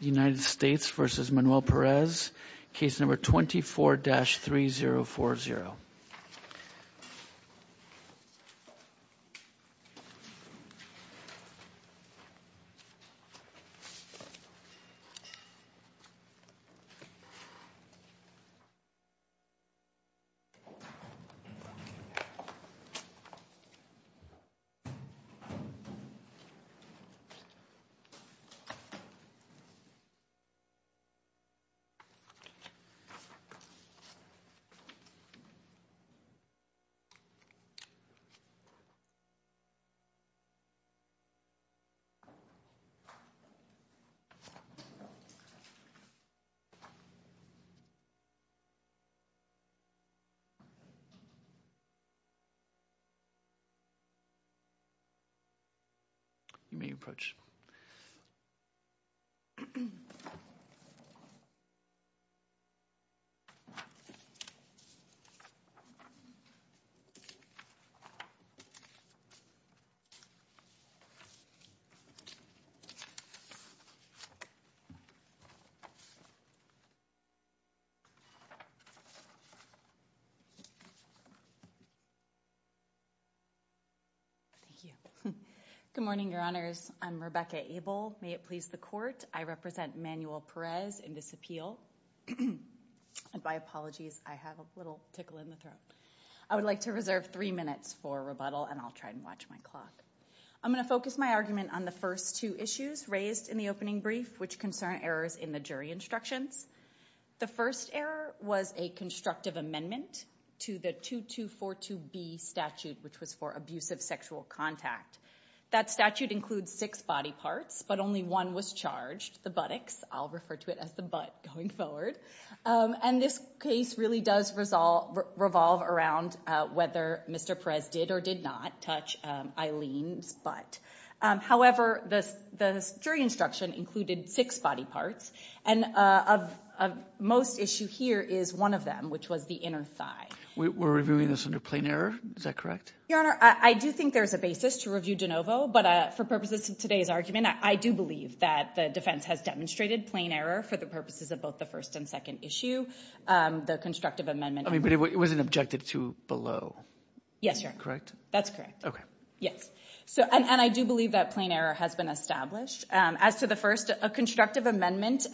United States v. Manuel Perez, case number 24-3040. Thank you. You may approach. Good morning, your honors. I'm Rebecca Abel. May it please the court. I represent Manuel Perez in this appeal. And by apologies, I have a little tickle in the throat. I would like to reserve three minutes for rebuttal, and I'll try and watch my clock. I'm going to focus my argument on the first two issues raised in the opening brief, which concern errors in the jury instructions. The first error was a constructive amendment to the 2242B statute, which was for abusive sexual contact. That statute includes six body parts, but only one was charged, the buttocks. I'll refer to it as the butt going forward. And this case really does revolve around whether Mr. Perez did or did not touch Eileen's butt. However, the jury instruction included six body parts, and of most issue here is one of them, which was the inner thigh. We're reviewing this under plain error. Is that correct? Your honor, I do think there's a basis to review de novo, but for purposes of today's argument, I do believe that the defense has demonstrated plain error for the purposes of both the first and second issue, the constructive amendment. But it wasn't objected to below. Yes, sir. Correct? That's correct. Okay. Yes. And I do believe that plain error has been established. As to the first, a constructive amendment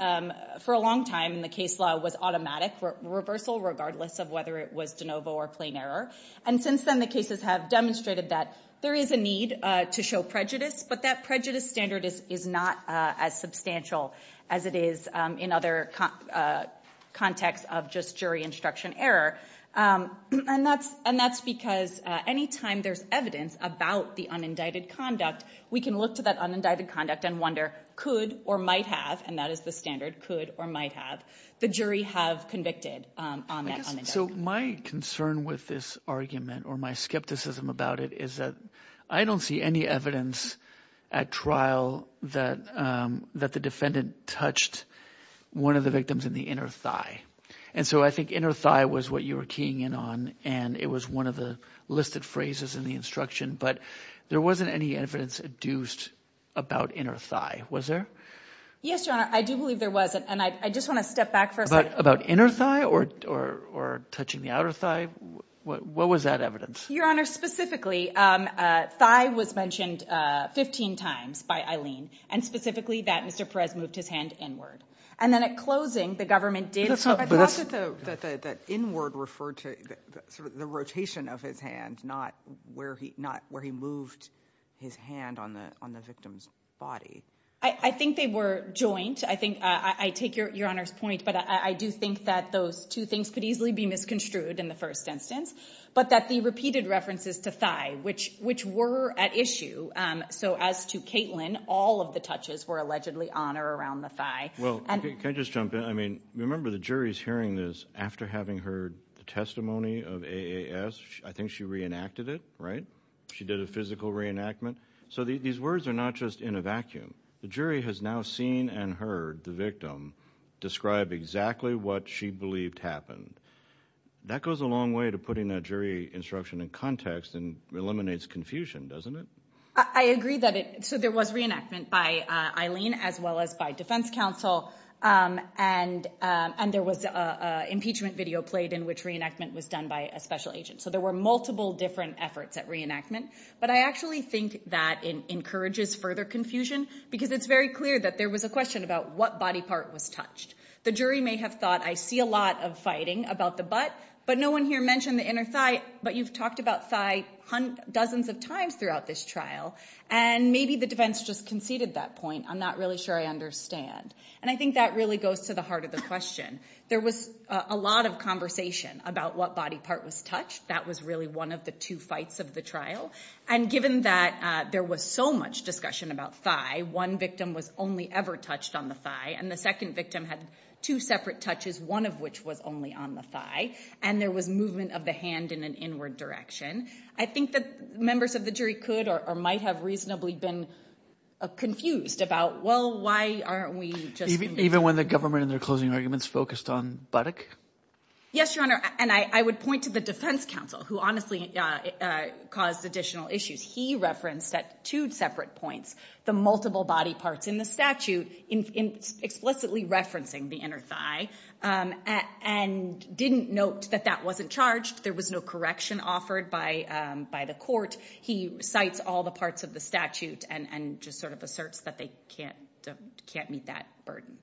for a long time in the case law was automatic reversal, regardless of whether it was de novo or plain error. And since then, the cases have demonstrated that there is a need to show prejudice, but that prejudice standard is not as substantial as it is in other contexts of just jury instruction error. And that's because any time there's evidence about the unindicted conduct, we can look to that unindicted conduct and wonder could or might have, and that is the standard, could or might have, the jury have convicted on that. So my concern with this argument or my skepticism about it is that I don't see any evidence at trial that the defendant touched one of the victims in the inner thigh. And so I think inner thigh was what you were keying in on, and it was one of the listed phrases in the instruction. But there wasn't any evidence adduced about inner thigh, was there? Yes, Your Honor. I do believe there was. And I just want to step back for a second. About inner thigh or touching the outer thigh, what was that evidence? Your Honor, specifically, thigh was mentioned 15 times by Eileen and specifically that Mr. Perez moved his hand inward. And then at closing, the government did – But that's not – I thought that inward referred to sort of the rotation of his hand, not where he moved his hand on the victim's body. I think they were joint. I think – I take Your Honor's point, but I do think that those two things could easily be misconstrued in the first instance. But that the repeated references to thigh, which were at issue, so as to Caitlin, all of the touches were allegedly on or around the thigh. Well, can I just jump in? I mean, remember the jury's hearing this after having heard the testimony of AAS. I think she reenacted it, right? She did a physical reenactment. So these words are not just in a vacuum. The jury has now seen and heard the victim describe exactly what she believed happened. That goes a long way to putting that jury instruction in context and eliminates confusion, doesn't it? I agree that it – so there was reenactment by Eileen as well as by defense counsel. And there was an impeachment video played in which reenactment was done by a special agent. So there were multiple different efforts at reenactment. But I actually think that it encourages further confusion because it's very clear that there was a question about what body part was touched. The jury may have thought, I see a lot of fighting about the butt, but no one here mentioned the inner thigh. But you've talked about thigh dozens of times throughout this trial, and maybe the defense just conceded that point. I'm not really sure I understand. And I think that really goes to the heart of the question. There was a lot of conversation about what body part was touched. That was really one of the two fights of the trial. And given that there was so much discussion about thigh, one victim was only ever touched on the thigh. And the second victim had two separate touches, one of which was only on the thigh. And there was movement of the hand in an inward direction. I think that members of the jury could or might have reasonably been confused about, well, why aren't we just – Even when the government in their closing arguments focused on buttock? Yes, Your Honor, and I would point to the defense counsel who honestly caused additional issues. He referenced at two separate points the multiple body parts in the statute, explicitly referencing the inner thigh, and didn't note that that wasn't charged. There was no correction offered by the court. He cites all the parts of the statute and just sort of asserts that they can't meet that burden.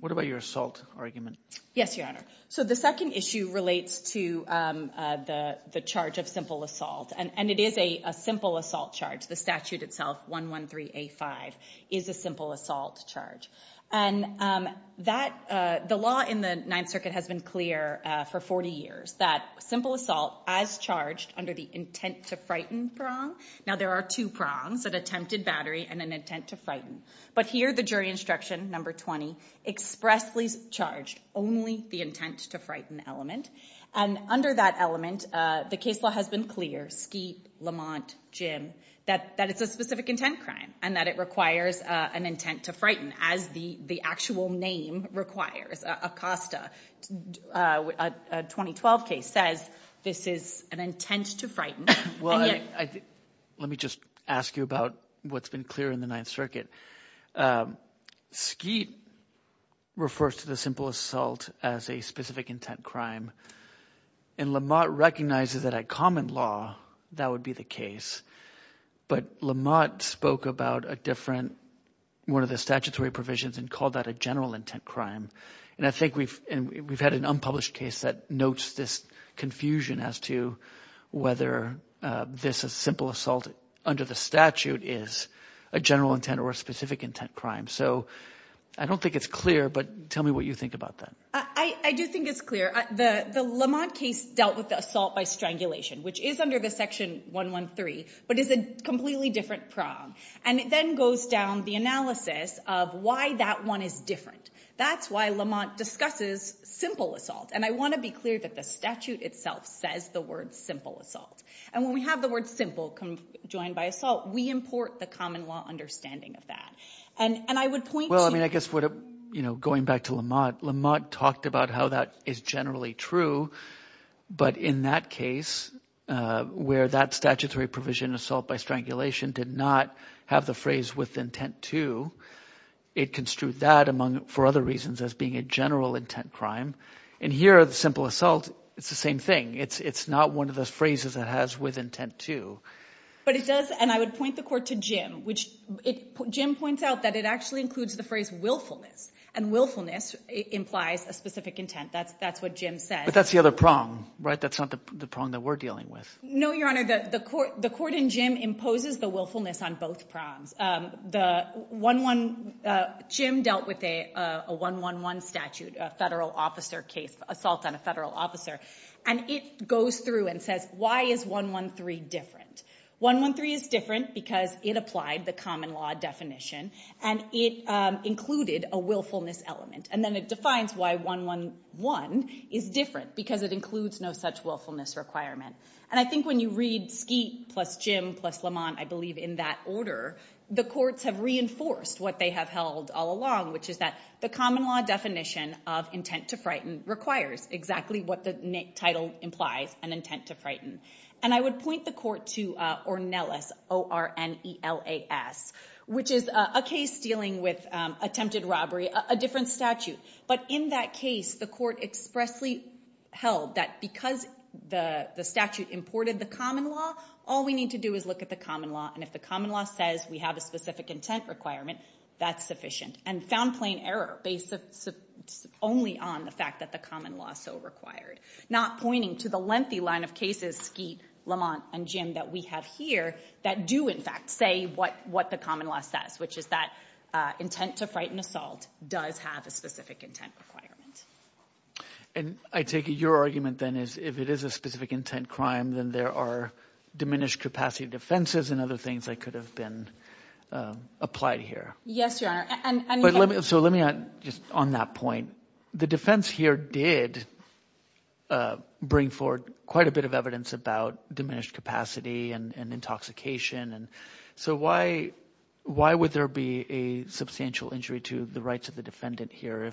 What about your assault argument? Yes, Your Honor. So the second issue relates to the charge of simple assault, and it is a simple assault charge. The statute itself, 113A5, is a simple assault charge. And that – the law in the Ninth Circuit has been clear for 40 years, that simple assault, as charged under the intent to frighten prong. Now, there are two prongs, an attempted battery and an intent to frighten. But here the jury instruction, number 20, expressly charged only the intent to frighten element. And under that element, the case law has been clear, Skeet, Lamont, Jim, that it's a specific intent crime and that it requires an intent to frighten as the actual name requires. Acosta, a 2012 case, says this is an intent to frighten. Well, let me just ask you about what's been clear in the Ninth Circuit. Skeet refers to the simple assault as a specific intent crime. And Lamont recognizes that a common law, that would be the case. But Lamont spoke about a different – one of the statutory provisions and called that a general intent crime. And I think we've had an unpublished case that notes this confusion as to whether this simple assault under the statute is a general intent or a specific intent crime. So I don't think it's clear, but tell me what you think about that. I do think it's clear. The Lamont case dealt with the assault by strangulation, which is under the Section 113, but is a completely different prong. And it then goes down the analysis of why that one is different. That's why Lamont discusses simple assault. And I want to be clear that the statute itself says the word simple assault. And when we have the word simple joined by assault, we import the common law understanding of that. And I would point to – Well, I mean, I guess going back to Lamont, Lamont talked about how that is generally true. But in that case, where that statutory provision, assault by strangulation, did not have the phrase with intent to, it construed that among – for other reasons as being a general intent crime. And here, simple assault, it's the same thing. It's not one of those phrases it has with intent to. But it does – and I would point the court to Jim, which – Jim points out that it actually includes the phrase willfulness, and willfulness implies a specific intent. That's what Jim said. But that's the other prong, right? That's not the prong that we're dealing with. No, Your Honor. The court in Jim imposes the willfulness on both prongs. The 1-1 – Jim dealt with a 1-1-1 statute, a federal officer case, assault on a federal officer. And it goes through and says, why is 1-1-3 different? 1-1-3 is different because it applied the common law definition, and it included a willfulness element. And then it defines why 1-1-1 is different, because it includes no such willfulness requirement. And I think when you read Skeet plus Jim plus Lamont, I believe, in that order, the courts have reinforced what they have held all along, which is that the common law definition of intent to frighten requires exactly what the title implies, an intent to frighten. And I would point the court to Ornelas, O-R-N-E-L-A-S, which is a case dealing with attempted robbery, a different statute. But in that case, the court expressly held that because the statute imported the common law, all we need to do is look at the common law, and if the common law says we have a specific intent requirement, that's sufficient. And found plain error based only on the fact that the common law is so required. Not pointing to the lengthy line of cases, Skeet, Lamont, and Jim, that we have here, that do, in fact, say what the common law says, which is that intent to frighten assault does have a specific intent requirement. And I take it your argument then is if it is a specific intent crime, then there are diminished capacity defenses and other things that could have been applied here. Yes, Your Honor. So let me add just on that point. The defense here did bring forward quite a bit of evidence about diminished capacity and intoxication. So why would there be a substantial injury to the rights of the defendant here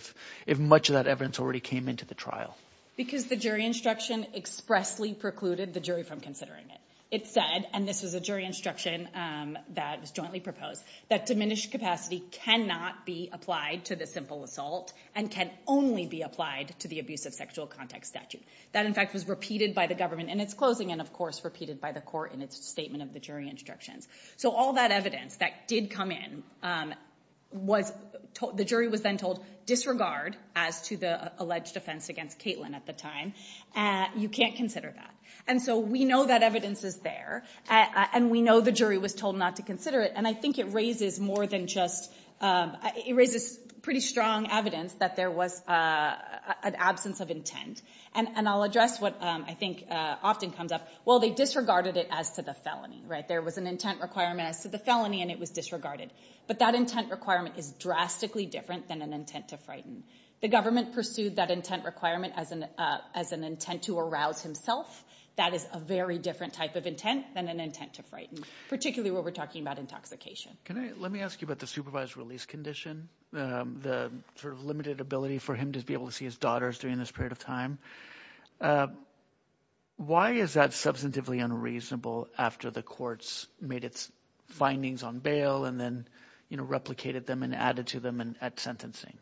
if much of that evidence already came into the trial? Because the jury instruction expressly precluded the jury from considering it. It said, and this was a jury instruction that was jointly proposed, that diminished capacity cannot be applied to the simple assault and can only be applied to the abusive sexual contact statute. That, in fact, was repeated by the government in its closing and, of course, repeated by the court in its statement of the jury instructions. So all that evidence that did come in, the jury was then told, disregard as to the alleged offense against Caitlin at the time. You can't consider that. And so we know that evidence is there, and we know the jury was told not to consider it, and I think it raises pretty strong evidence that there was an absence of intent. And I'll address what I think often comes up. Well, they disregarded it as to the felony. There was an intent requirement as to the felony, and it was disregarded. But that intent requirement is drastically different than an intent to frighten. The government pursued that intent requirement as an intent to arouse himself. That is a very different type of intent than an intent to frighten, particularly when we're talking about intoxication. Let me ask you about the supervised release condition, the sort of limited ability for him to be able to see his daughters during this period of time. Why is that substantively unreasonable after the courts made its findings on bail and then replicated them and added to them at sentencing?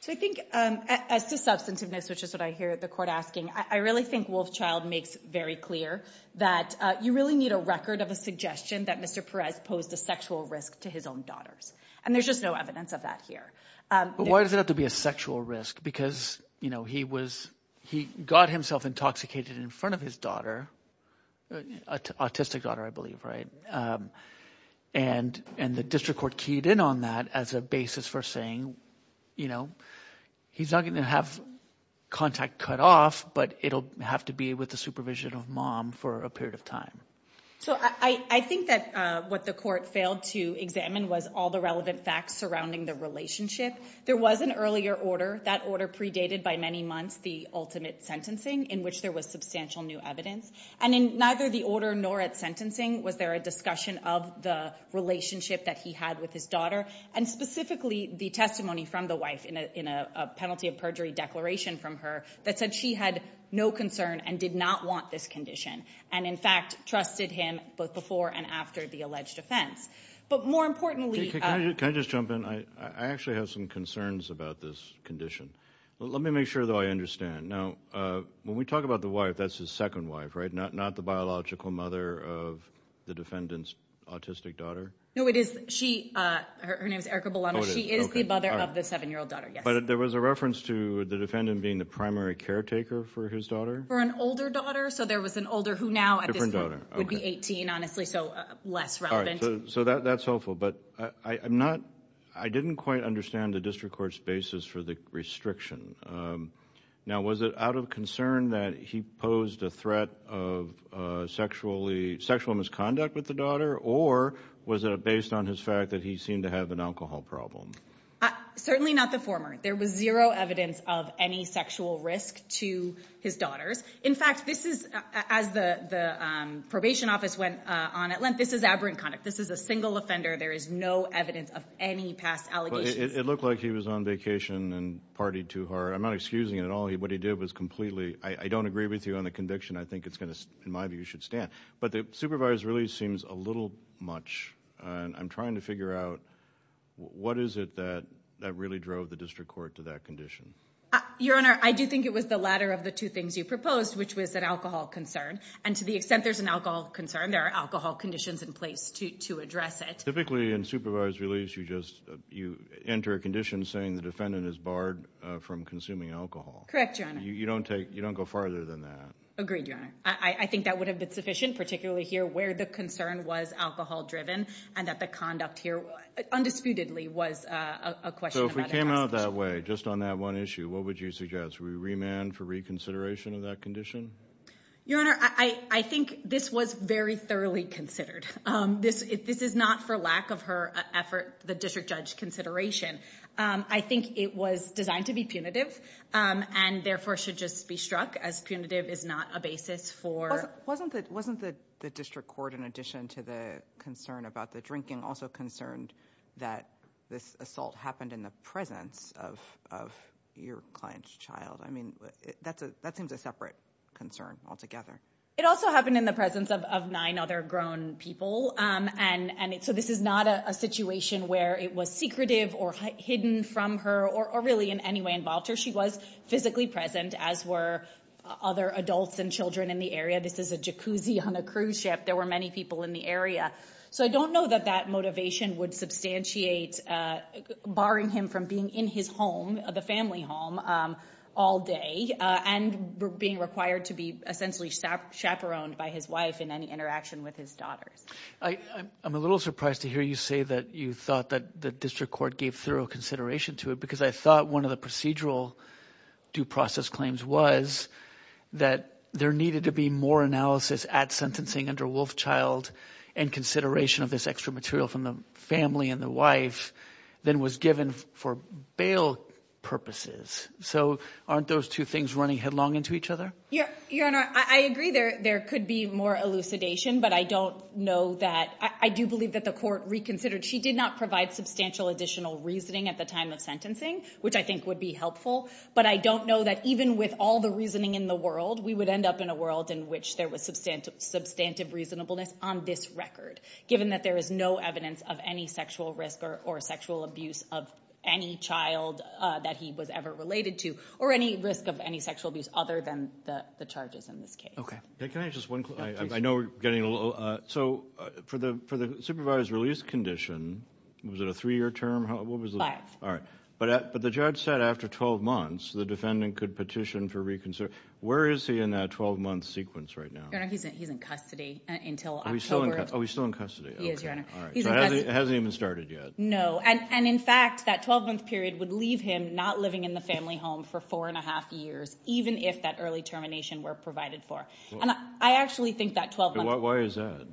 So I think as to substantiveness, which is what I hear the court asking, I really think Wolfchild makes very clear that you really need a record of a suggestion that Mr. Perez posed a sexual risk to his own daughters, and there's just no evidence of that here. But why does it have to be a sexual risk? Because he got himself intoxicated in front of his daughter, autistic daughter, I believe, right? And the district court keyed in on that as a basis for saying he's not going to have contact cut off, but it'll have to be with the supervision of mom for a period of time. So I think that what the court failed to examine was all the relevant facts surrounding the relationship. There was an earlier order, that order predated by many months the ultimate sentencing, in which there was substantial new evidence. And in neither the order nor at sentencing was there a discussion of the relationship that he had with his daughter, and specifically the testimony from the wife in a penalty of perjury declaration from her that said she had no concern and did not want this condition. And in fact trusted him both before and after the alleged offense. But more importantly- Can I just jump in? I actually have some concerns about this condition. Let me make sure that I understand. Now, when we talk about the wife, that's his second wife, right? Not the biological mother of the defendant's autistic daughter? No, it is, she, her name is Erica Bellano. She is the mother of the seven-year-old daughter, yes. But there was a reference to the defendant being the primary caretaker for his daughter? For an older daughter, so there was an older who now at this point would be 18, honestly, so less relevant. All right, so that's helpful. But I'm not, I didn't quite understand the district court's basis for the restriction. Now, was it out of concern that he posed a threat of sexually, sexual misconduct with the daughter? Or was it based on his fact that he seemed to have an alcohol problem? Certainly not the former. There was zero evidence of any sexual risk to his daughters. In fact, this is, as the probation office went on at length, this is aberrant conduct. This is a single offender. There is no evidence of any past allegations. It looked like he was on vacation and partied too hard. I'm not excusing it at all. What he did was completely, I don't agree with you on the conviction. I think it's going to, in my view, should stand. But the supervisor really seems a little much. And I'm trying to figure out what is it that really drove the district court to that condition. Your Honor, I do think it was the latter of the two things you proposed, which was an alcohol concern. And to the extent there's an alcohol concern, there are alcohol conditions in place to address it. Typically, in supervised release, you just, you enter a condition saying the defendant is barred from consuming alcohol. Correct, Your Honor. You don't take, you don't go farther than that. Agreed, Your Honor. I think that would have been sufficient, particularly here where the concern was alcohol driven, and that the conduct here undisputedly was a question about a passage. So if we came out that way, just on that one issue, what would you suggest? Would we remand for reconsideration of that condition? Your Honor, I think this was very thoroughly considered. This is not for lack of her effort, the district judge consideration. I think it was designed to be punitive, and therefore should just be struck as punitive is not a basis for. Wasn't the district court, in addition to the concern about the drinking, also concerned that this assault happened in the presence of your client's child? I mean, that seems a separate concern altogether. It also happened in the presence of nine other grown people. So this is not a situation where it was secretive or hidden from her or really in any way involved her. She was physically present, as were other adults and children in the area. This is a jacuzzi on a cruise ship. There were many people in the area. So I don't know that that motivation would substantiate barring him from being in his home, the family home, all day and being required to be essentially chaperoned by his wife in any interaction with his daughters. I'm a little surprised to hear you say that you thought that the district court gave thorough consideration to it because I thought one of the procedural due process claims was that there needed to be more analysis at sentencing under Wolfchild and consideration of this extra material from the family and the wife than was given for bail purposes. So aren't those two things running headlong into each other? Your Honor, I agree there could be more elucidation, but I don't know that – I do believe that the court reconsidered. She did not provide substantial additional reasoning at the time of sentencing, which I think would be helpful. But I don't know that even with all the reasoning in the world, we would end up in a world in which there was substantive reasonableness on this record, given that there is no evidence of any sexual risk or sexual abuse of any child that he was ever related to or any risk of any sexual abuse other than the charges in this case. Okay. Can I just – I know we're getting a little – so for the supervised release condition, was it a three-year term? Five. All right. But the judge said after 12 months, the defendant could petition for – where is he in that 12-month sequence right now? Your Honor, he's in custody until October. Oh, he's still in custody. He is, Your Honor. All right. So it hasn't even started yet. No, and in fact, that 12-month period would leave him not living in the family home for four and a half years, even if that early termination were provided for. And I actually think that 12 months – Why is that?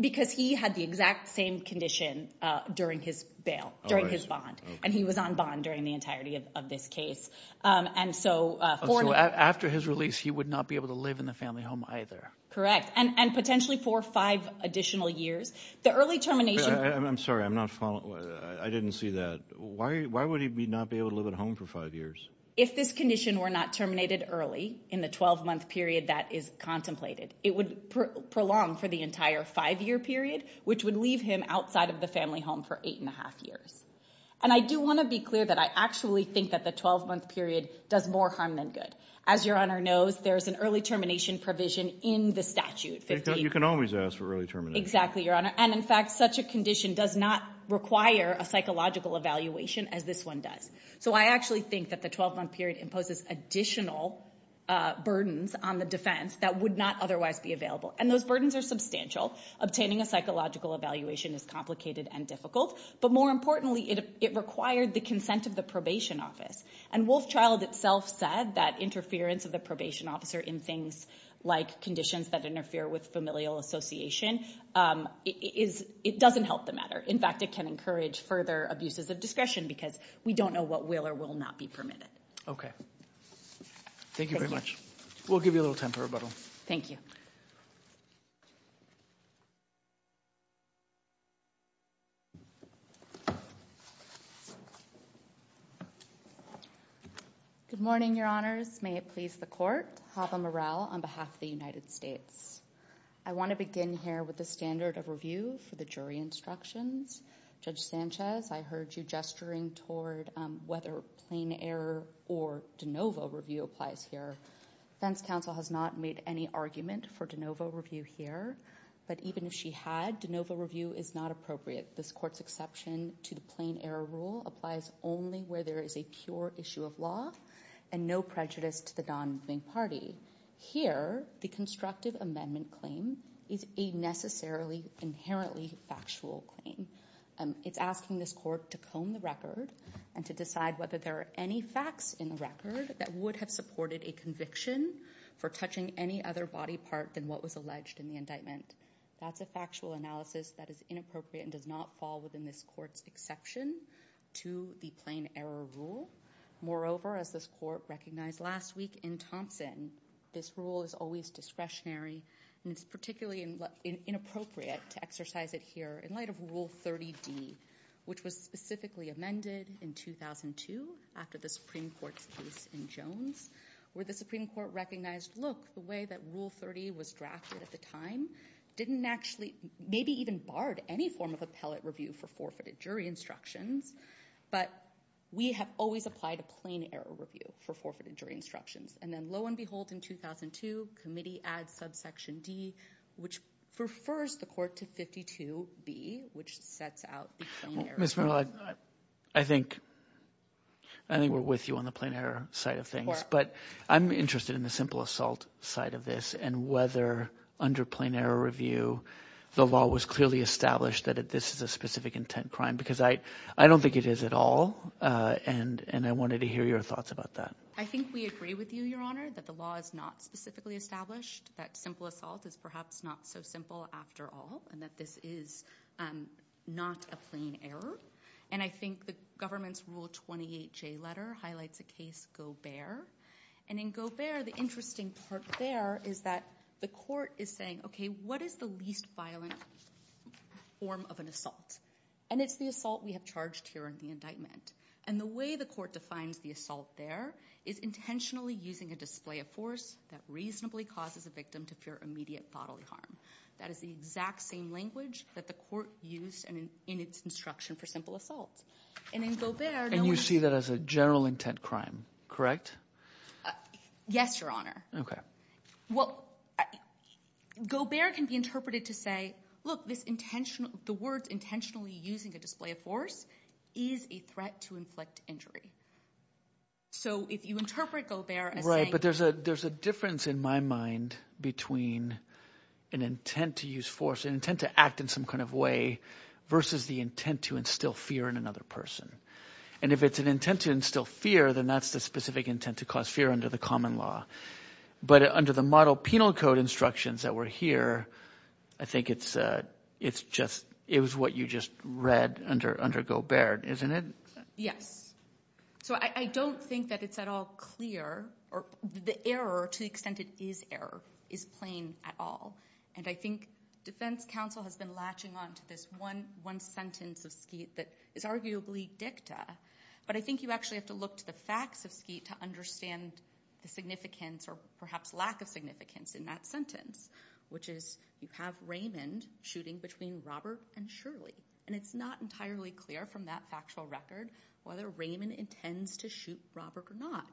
Because he had the exact same condition during his bail, during his bond. And he was on bond during the entirety of this case. And so – So after his release, he would not be able to live in the family home either. Correct. And potentially for five additional years. The early termination – I'm sorry. I'm not following. I didn't see that. Why would he not be able to live at home for five years? If this condition were not terminated early in the 12-month period that is contemplated, it would prolong for the entire five-year period, which would leave him outside of the family home for eight and a half years. And I do want to be clear that I actually think that the 12-month period does more harm than good. As Your Honor knows, there is an early termination provision in the statute. You can always ask for early termination. Exactly, Your Honor. And in fact, such a condition does not require a psychological evaluation as this one does. So I actually think that the 12-month period imposes additional burdens on the defense that would not otherwise be available. And those burdens are substantial. Obtaining a psychological evaluation is complicated and difficult. But more importantly, it required the consent of the probation office. And Wolf Child itself said that interference of the probation officer in things like conditions that interfere with familial association doesn't help the matter. In fact, it can encourage further abuses of discretion because we don't know what will or will not be permitted. Okay. Thank you very much. We'll give you a little time for rebuttal. Thank you. Good morning, Your Honors. May it please the Court. Haba Meral on behalf of the United States. I want to begin here with the standard of review for the jury instructions. Judge Sanchez, I heard you gesturing toward whether plain error or de novo review applies here. Defense counsel has not made any argument for de novo review here. But even if she had, de novo review is not appropriate. This court's exception to the plain error rule applies only where there is a pure issue of law and no prejudice to the non-moving party. Here, the constructive amendment claim is a necessarily inherently factual claim. It's asking this court to comb the record and to decide whether there are any facts in the record that would have supported a conviction for touching any other body part than what was alleged in the indictment. That's a factual analysis that is inappropriate and does not fall within this court's exception to the plain error rule. Moreover, as this court recognized last week in Thompson, this rule is always discretionary and it's particularly inappropriate to exercise it here in light of Rule 30D, which was specifically amended in 2002 after the Supreme Court's case in Jones, where the Supreme Court recognized, look, the way that Rule 30 was drafted at the time didn't actually maybe even barred any form of appellate review for forfeited jury instructions. But we have always applied a plain error review for forfeited jury instructions. And then lo and behold, in 2002, committee adds subsection D, which refers the court to 52B, which sets out the plain error rule. Mr. Merrill, I think we're with you on the plain error side of things. But I'm interested in the simple assault side of this and whether under plain error review the law was clearly established that this is a specific intent crime, because I don't think it is at all. And I wanted to hear your thoughts about that. I think we agree with you, Your Honor, that the law is not specifically established, that simple assault is perhaps not so simple after all, and that this is not a plain error. And I think the government's Rule 28J letter highlights a case, Gobert. And in Gobert, the interesting part there is that the court is saying, okay, what is the least violent form of an assault? And it's the assault we have charged here in the indictment. And the way the court defines the assault there is intentionally using a display of force that reasonably causes a victim to fear immediate bodily harm. That is the exact same language that the court used in its instruction for simple assault. And you see that as a general intent crime, correct? Yes, Your Honor. Okay. Well, Gobert can be interpreted to say, look, this intentional – the words intentionally using a display of force is a threat to inflict injury. So if you interpret Gobert as saying – Right, but there's a difference in my mind between an intent to use force, an intent to act in some kind of way versus the intent to instill fear in another person. And if it's an intent to instill fear, then that's the specific intent to cause fear under the common law. But under the model penal code instructions that were here, I think it's just – it was what you just read under Gobert, isn't it? Yes. So I don't think that it's at all clear – or the error, to the extent it is error, is plain at all. And I think defense counsel has been latching on to this one sentence of Skeet that is arguably dicta. But I think you actually have to look to the facts of Skeet to understand the significance or perhaps lack of significance in that sentence, which is you have Raymond shooting between Robert and Shirley. And it's not entirely clear from that factual record whether Raymond intends to shoot Robert or not.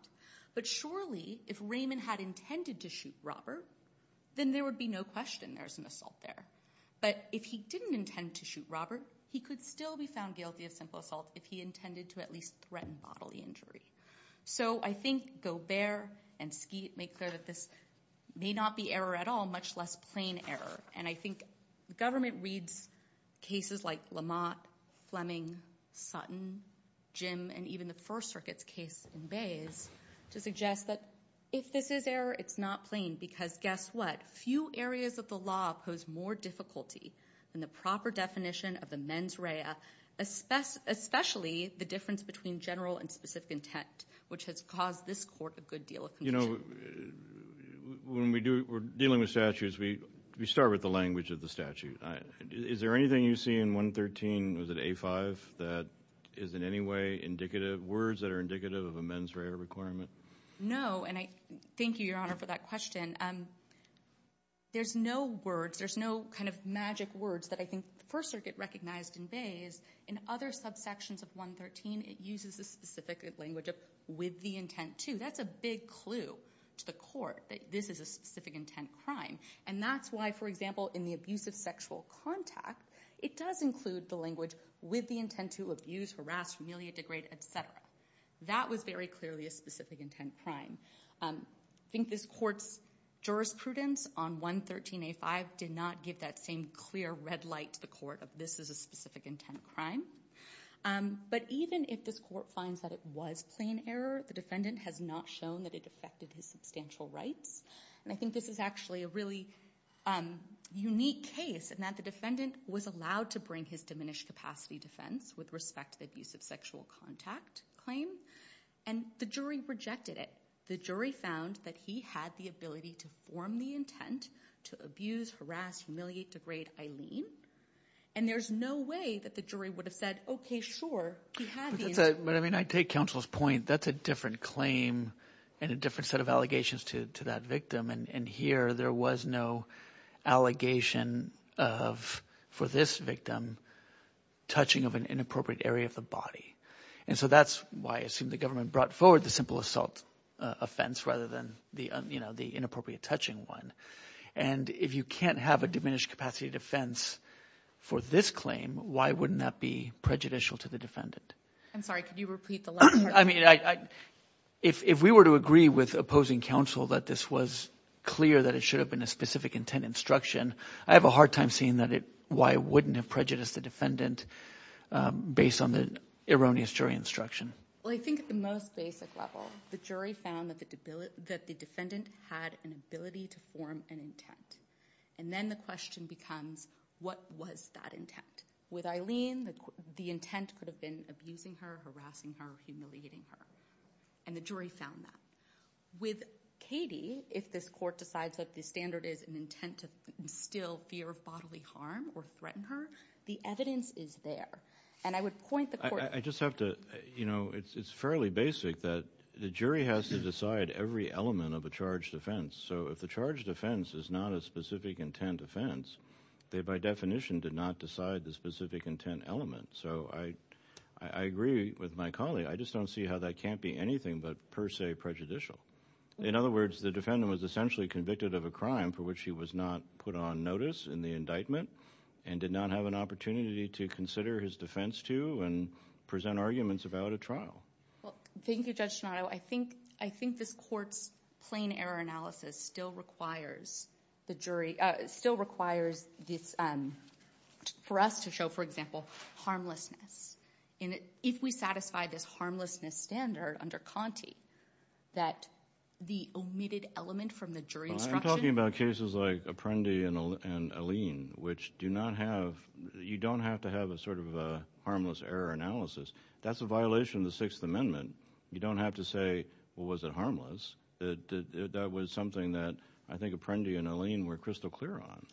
But surely if Raymond had intended to shoot Robert, then there would be no question there's an assault there. But if he didn't intend to shoot Robert, he could still be found guilty of simple assault if he intended to at least threaten bodily injury. So I think Gobert and Skeet make clear that this may not be error at all, much less plain error. And I think government reads cases like Lamont, Fleming, Sutton, Jim, and even the First Circuit's case in Bays to suggest that if this is error, it's not plain. Because guess what? Few areas of the law pose more difficulty than the proper definition of the mens rea, especially the difference between general and specific intent, which has caused this court a good deal of confusion. When we're dealing with statutes, we start with the language of the statute. Is there anything you see in 113, was it A5, that is in any way indicative, words that are indicative of a mens rea requirement? No, and I thank you, Your Honor, for that question. There's no words. There's no kind of magic words that I think the First Circuit recognized in Bays. In other subsections of 113, it uses a specific language of with the intent to. That's a big clue to the court that this is a specific intent crime. And that's why, for example, in the abuse of sexual contact, it does include the language with the intent to abuse, harass, humiliate, degrade, et cetera. That was very clearly a specific intent crime. I think this court's jurisprudence on 113A5 did not give that same clear red light to the court of this is a specific intent crime. But even if this court finds that it was plain error, the defendant has not shown that it affected his substantial rights. And I think this is actually a really unique case in that the defendant was allowed to bring his diminished capacity defense with respect to the abuse of sexual contact claim. And the jury rejected it. The jury found that he had the ability to form the intent to abuse, harass, humiliate, degrade Aileen. And there's no way that the jury would have said, OK, sure, he had the intent. But, I mean, I take counsel's point. That's a different claim and a different set of allegations to that victim. And here there was no allegation of, for this victim, touching of an inappropriate area of the body. And so that's why I assume the government brought forward the simple assault offense rather than the inappropriate touching one. And if you can't have a diminished capacity defense for this claim, why wouldn't that be prejudicial to the defendant? I'm sorry. Could you repeat the last part? I mean, if we were to agree with opposing counsel that this was clear that it should have been a specific intent instruction, I have a hard time seeing why it wouldn't have prejudiced the defendant based on the erroneous jury instruction. Well, I think at the most basic level, the jury found that the defendant had an ability to form an intent. And then the question becomes, what was that intent? With Aileen, the intent could have been abusing her, harassing her, humiliating her. And the jury found that. With Katie, if this court decides that the standard is an intent to instill fear of bodily harm or threaten her, the evidence is there. And I would point the court— I just have to—you know, it's fairly basic that the jury has to decide every element of a charged offense. So if the charged offense is not a specific intent offense, they by definition did not decide the specific intent element. So I agree with my colleague. I just don't see how that can't be anything but per se prejudicial. In other words, the defendant was essentially convicted of a crime for which he was not put on notice in the indictment and did not have an opportunity to consider his defense to and present arguments about a trial. Well, thank you, Judge Tonato. I think this court's plain error analysis still requires the jury—still requires this—for us to show, for example, harmlessness. If we satisfy this harmlessness standard under Conte that the omitted element from the jury instruction— which do not have—you don't have to have a sort of a harmless error analysis. That's a violation of the Sixth Amendment. You don't have to say, well, was it harmless? That was something that I think Apprendi and Alene were crystal clear on.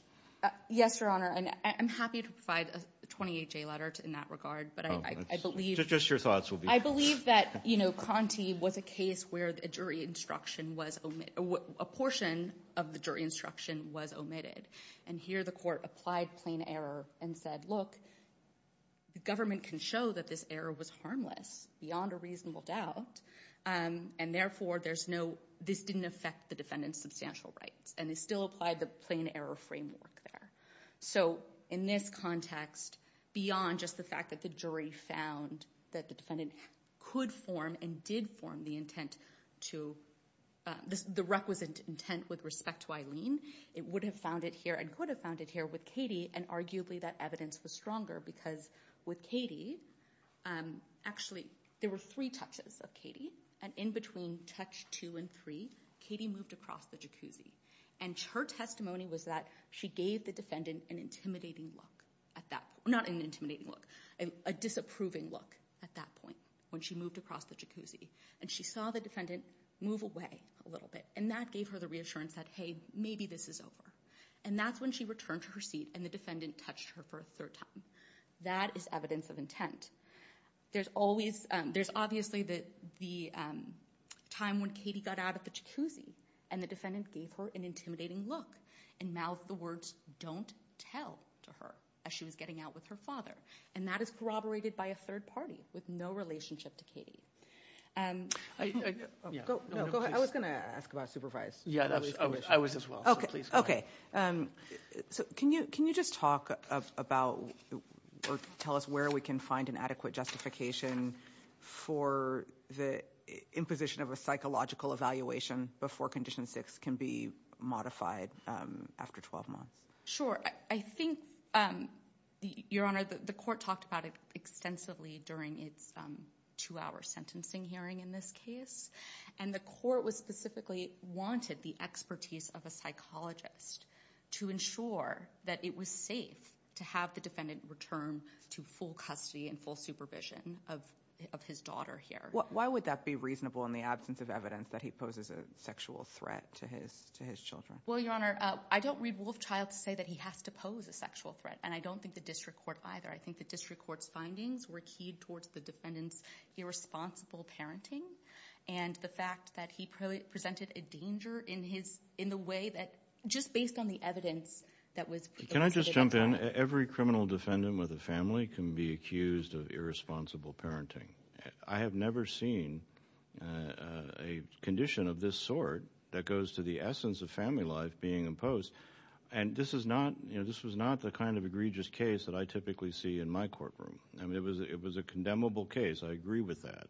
Yes, Your Honor. And I'm happy to provide a 28-J letter in that regard, but I believe— Just your thoughts will be— I believe that, you know, Conte was a case where a jury instruction was—a portion of the jury instruction was omitted. And here the court applied plain error and said, look, the government can show that this error was harmless beyond a reasonable doubt. And therefore, there's no—this didn't affect the defendant's substantial rights. And they still applied the plain error framework there. So in this context, beyond just the fact that the jury found that the defendant could form and did form the intent to—the requisite intent with respect to Alene, it would have found it here and could have found it here with Katie. And arguably that evidence was stronger because with Katie—actually, there were three touches of Katie. And in between touch two and three, Katie moved across the jacuzzi. And her testimony was that she gave the defendant an intimidating look at that—not an intimidating look, a disapproving look at that point when she moved across the jacuzzi. And she saw the defendant move away a little bit. And that gave her the reassurance that, hey, maybe this is over. And that's when she returned to her seat and the defendant touched her for a third time. That is evidence of intent. There's always—there's obviously the time when Katie got out of the jacuzzi and the defendant gave her an intimidating look and mouthed the words, don't tell, to her as she was getting out with her father. And that is corroborated by a third party with no relationship to Katie. Go ahead. I was going to ask about supervised. Yeah, I was as well. So can you just talk about or tell us where we can find an adequate justification for the imposition of a psychological evaluation before Condition 6 can be modified after 12 months? Sure. I think, Your Honor, the court talked about it extensively during its two-hour sentencing hearing in this case. And the court specifically wanted the expertise of a psychologist to ensure that it was safe to have the defendant return to full custody and full supervision of his daughter here. Why would that be reasonable in the absence of evidence that he poses a sexual threat to his children? Well, Your Honor, I don't read Wolfchild to say that he has to pose a sexual threat, and I don't think the district court either. I think the district court's findings were keyed towards the defendant's irresponsible parenting and the fact that he presented a danger in the way that—just based on the evidence that was presented at the time. Can I just jump in? Every criminal defendant with a family can be accused of irresponsible parenting. I have never seen a condition of this sort that goes to the essence of family life being imposed. And this was not the kind of egregious case that I typically see in my courtroom. I mean, it was a condemnable case. I agree with that.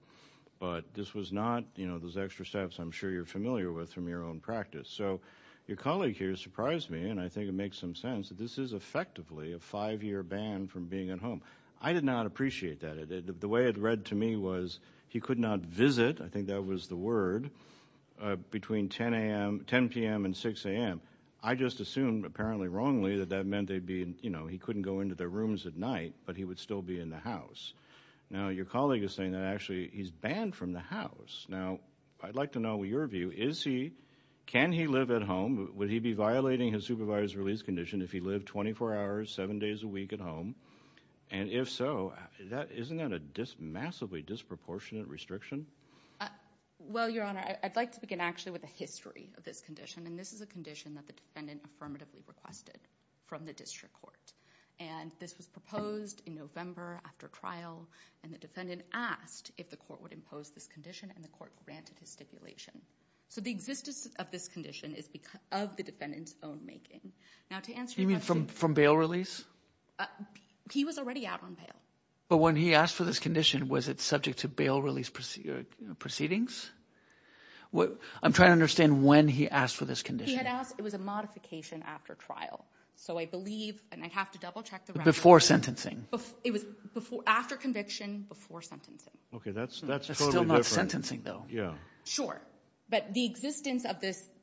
But this was not those extra steps I'm sure you're familiar with from your own practice. So your colleague here surprised me, and I think it makes some sense that this is effectively a five-year ban from being at home. I did not appreciate that. The way it read to me was he could not visit—I think that was the word—between 10 p.m. and 6 a.m. I just assumed, apparently wrongly, that that meant they'd be—you know, he couldn't go into their rooms at night, but he would still be in the house. Now, your colleague is saying that actually he's banned from the house. Now, I'd like to know your view. Is he—can he live at home? Would he be violating his supervised release condition if he lived 24 hours, 7 days a week at home? And if so, isn't that a massively disproportionate restriction? Well, Your Honor, I'd like to begin actually with the history of this condition. And this is a condition that the defendant affirmatively requested from the district court. And this was proposed in November after trial, and the defendant asked if the court would impose this condition, and the court granted his stipulation. So the existence of this condition is of the defendant's own making. Now, to answer your question— You mean from bail release? He was already out on bail. But when he asked for this condition, was it subject to bail release proceedings? I'm trying to understand when he asked for this condition. He had asked—it was a modification after trial. So I believe—and I'd have to double-check the record. Before sentencing. It was after conviction, before sentencing. Okay, that's totally different. That's still not sentencing, though. Yeah. Sure. But the existence of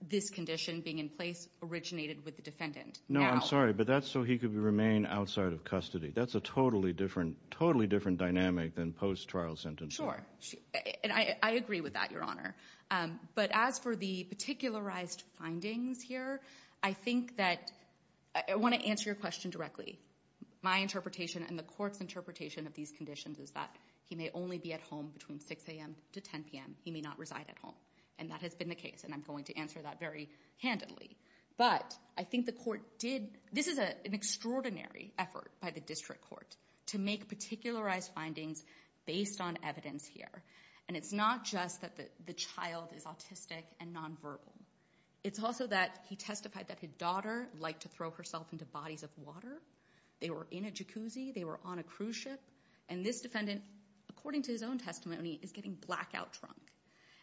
this condition being in place originated with the defendant. No, I'm sorry, but that's so he could remain outside of custody. That's a totally different dynamic than post-trial sentencing. Sure. And I agree with that, Your Honor. But as for the particularized findings here, I think that—I want to answer your question directly. My interpretation and the court's interpretation of these conditions is that he may only be at home between 6 a.m. to 10 p.m. He may not reside at home. And that has been the case, and I'm going to answer that very handily. But I think the court did—this is an extraordinary effort by the district court to make particularized findings based on evidence here. And it's not just that the child is autistic and nonverbal. It's also that he testified that his daughter liked to throw herself into bodies of water. They were in a jacuzzi. They were on a cruise ship. And this defendant, according to his own testimony, is getting blackout drunk.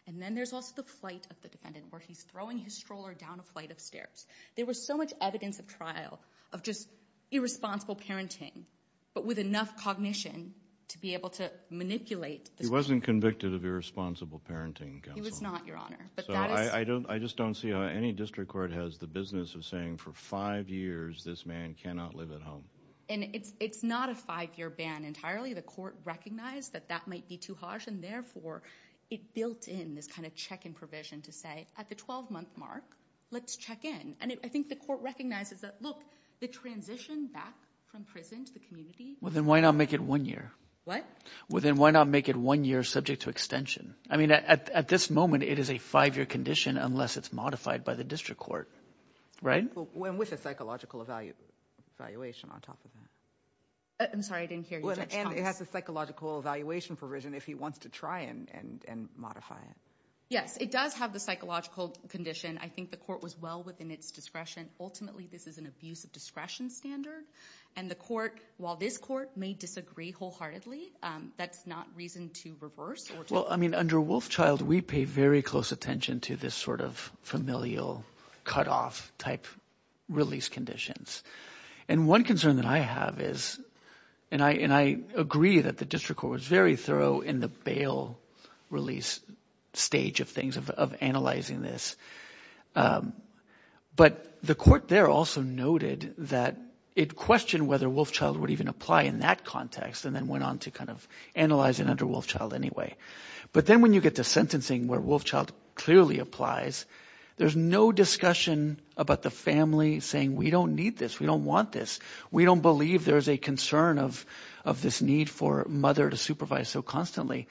And then there's also the flight of the defendant where he's throwing his stroller down a flight of stairs. There was so much evidence of trial of just irresponsible parenting, but with enough cognition to be able to manipulate— He wasn't convicted of irresponsible parenting, Counsel. He was not, Your Honor. So I just don't see how any district court has the business of saying for five years this man cannot live at home. And it's not a five-year ban entirely. The court recognized that that might be too harsh, and therefore it built in this kind of check-in provision to say at the 12-month mark, let's check in. And I think the court recognizes that, look, the transition back from prison to the community— Well, then why not make it one year? What? Well, then why not make it one year subject to extension? I mean at this moment, it is a five-year condition unless it's modified by the district court, right? And with a psychological evaluation on top of that. I'm sorry. I didn't hear you, Judge Thomas. And it has a psychological evaluation provision if he wants to try and modify it. Yes, it does have the psychological condition. I think the court was well within its discretion. Ultimately, this is an abuse of discretion standard, and the court, while this court, may disagree wholeheartedly. That's not reason to reverse or to— Well, I mean under Wolfchild, we pay very close attention to this sort of familial cutoff-type release conditions. And one concern that I have is—and I agree that the district court was very thorough in the bail release stage of things, of analyzing this. But the court there also noted that it questioned whether Wolfchild would even apply in that context and then went on to kind of analyze it under Wolfchild anyway. But then when you get to sentencing where Wolfchild clearly applies, there's no discussion about the family saying, we don't need this. We don't want this. We don't believe there's a concern of this need for mother to supervise so constantly.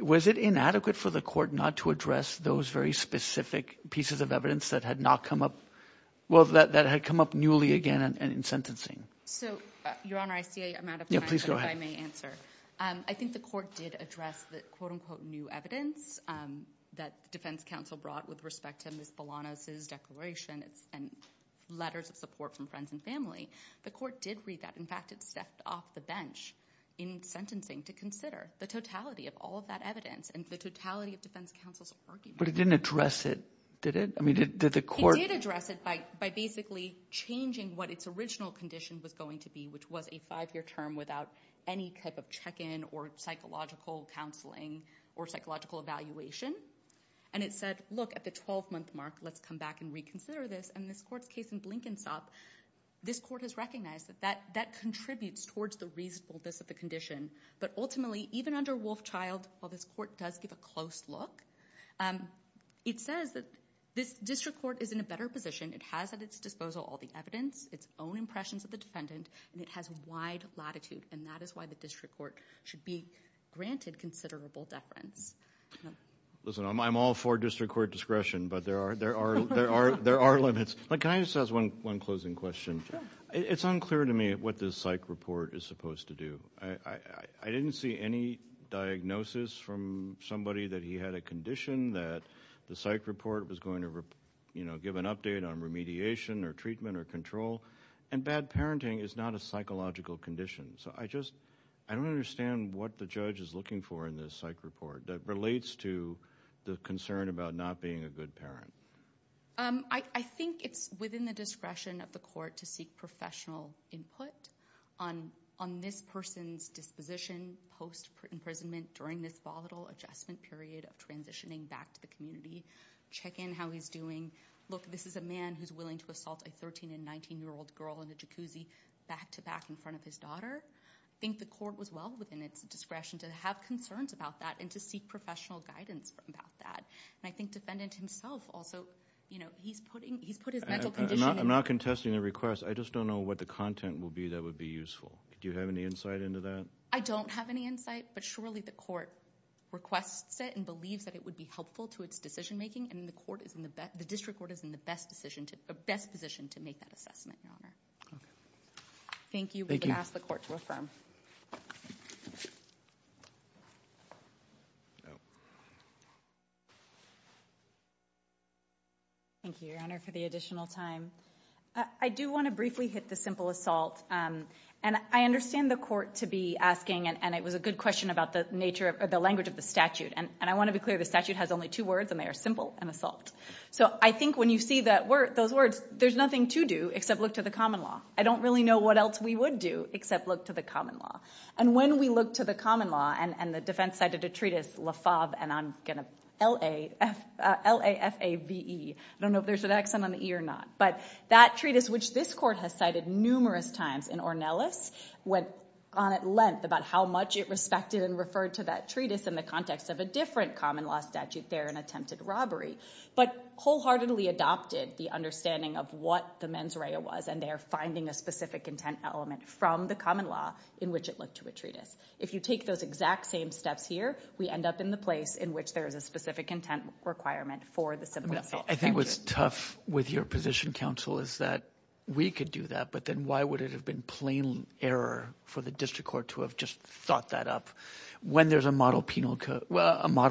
Was it inadequate for the court not to address those very specific pieces of evidence that had not come up—well, that had come up newly again in sentencing? So, Your Honor, I see I'm out of time. Yeah, please go ahead. I think the court did address the, quote-unquote, new evidence that the defense counsel brought with respect to Ms. Bolanos' declaration and letters of support from friends and family. The court did read that. In fact, it stepped off the bench in sentencing to consider the totality of all of that evidence and the totality of defense counsel's argument. But it didn't address it, did it? I mean, did the court— It didn't address any type of check-in or psychological counseling or psychological evaluation. And it said, look, at the 12-month mark, let's come back and reconsider this. And this court's case in Blinkensop, this court has recognized that that contributes towards the reasonableness of the condition. But ultimately, even under Wolfchild, while this court does give a close look, it says that this district court is in a better position. It has at its disposal all the evidence, its own impressions of the defendant, and it has wide latitude. And that is why the district court should be granted considerable deference. Listen, I'm all for district court discretion, but there are limits. But can I just ask one closing question? Sure. It's unclear to me what this psych report is supposed to do. I didn't see any diagnosis from somebody that he had a condition that the psych report was going to give an update on remediation or treatment or control. And bad parenting is not a psychological condition. So I just don't understand what the judge is looking for in this psych report that relates to the concern about not being a good parent. I think it's within the discretion of the court to seek professional input on this person's disposition post-imprisonment during this volatile adjustment period of transitioning back to the community. Check in how he's doing. Look, this is a man who's willing to assault a 13- and 19-year-old girl in a jacuzzi back-to-back in front of his daughter. I think the court was well within its discretion to have concerns about that and to seek professional guidance about that. And I think defendant himself also, you know, he's put his mental condition- I'm not contesting the request. I just don't know what the content will be that would be useful. Do you have any insight into that? I don't have any insight, but surely the court requests it and believes that it would be helpful to its decision-making. And the district court is in the best position to make that assessment, Your Honor. Okay. Thank you. We can ask the court to affirm. Thank you, Your Honor, for the additional time. I do want to briefly hit the simple assault. And I understand the court to be asking, and it was a good question about the language of the statute. And I want to be clear, the statute has only two words, and they are simple and assault. So I think when you see those words, there's nothing to do except look to the common law. I don't really know what else we would do except look to the common law. And when we look to the common law, and the defense cited a treatise, Lafave, and I'm going to- L-A-F-A-V-E. I don't know if there's an accent on the E or not. But that treatise, which this court has cited numerous times in Ornelas, went on at length about how much it respected and referred to that treatise in the context of a different common law statute there in attempted robbery, but wholeheartedly adopted the understanding of what the mens rea was and there finding a specific intent element from the common law in which it looked to a treatise. If you take those exact same steps here, we end up in the place in which there is a specific intent requirement for the simple assault. I think what's tough with your position, counsel, is that we could do that, but then why would it have been plain error for the district court to have just thought that up when there's a model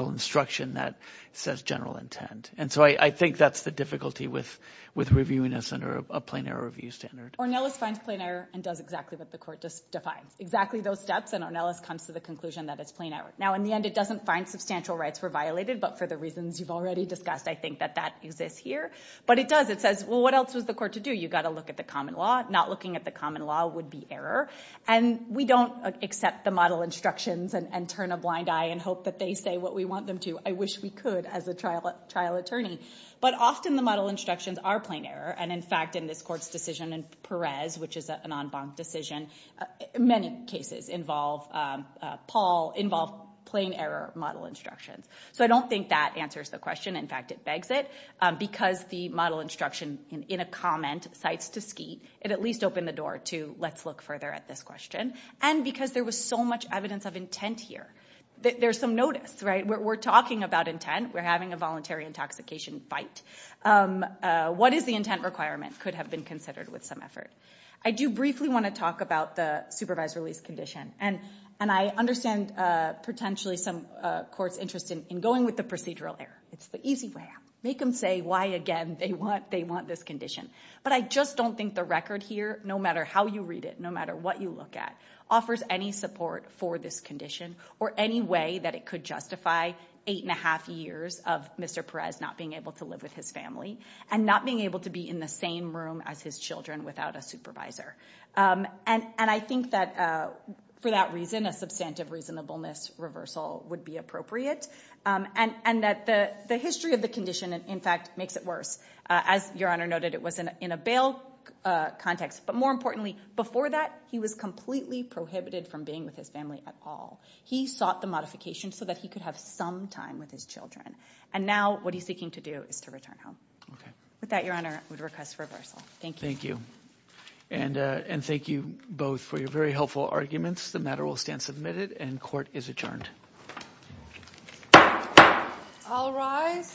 instruction that says general intent. And so I think that's the difficulty with reviewing this under a plain error review standard. Ornelas finds plain error and does exactly what the court just defines. Exactly those steps, and Ornelas comes to the conclusion that it's plain error. Now in the end, it doesn't find substantial rights were violated, but for the reasons you've already discussed, I think that that exists here. But it does. It says, well, what else was the court to do? You've got to look at the common law. Not looking at the common law would be error. And we don't accept the model instructions and turn a blind eye and hope that they say what we want them to. I wish we could as a trial attorney. But often the model instructions are plain error. And in fact, in this court's decision in Perez, which is an en banc decision, many cases involve plain error model instructions. So I don't think that answers the question. In fact, it begs it. Because the model instruction in a comment cites to Skeet, it at least opened the door to let's look further at this question. And because there was so much evidence of intent here. There's some notice, right? We're talking about intent. We're having a voluntary intoxication fight. What is the intent requirement could have been considered with some effort. I do briefly want to talk about the supervised release condition. And I understand potentially some court's interest in going with the procedural error. It's the easy way. Make them say why, again, they want this condition. But I just don't think the record here, no matter how you read it, no matter what you look at, offers any support for this condition or any way that it could justify eight and a half years of Mr. Perez not being able to live with his family and not being able to be in the same room as his children without a supervisor. And I think that for that reason, a substantive reasonableness reversal would be appropriate. And that the history of the condition, in fact, makes it worse. As Your Honor noted, it was in a bail context. But more importantly, before that, he was completely prohibited from being with his family at all. He sought the modification so that he could have some time with his children. And now what he's seeking to do is to return home. With that, Your Honor, I would request reversal. Thank you. Thank you. And thank you both for your very helpful arguments. The matter will stand submitted and court is adjourned. All rise.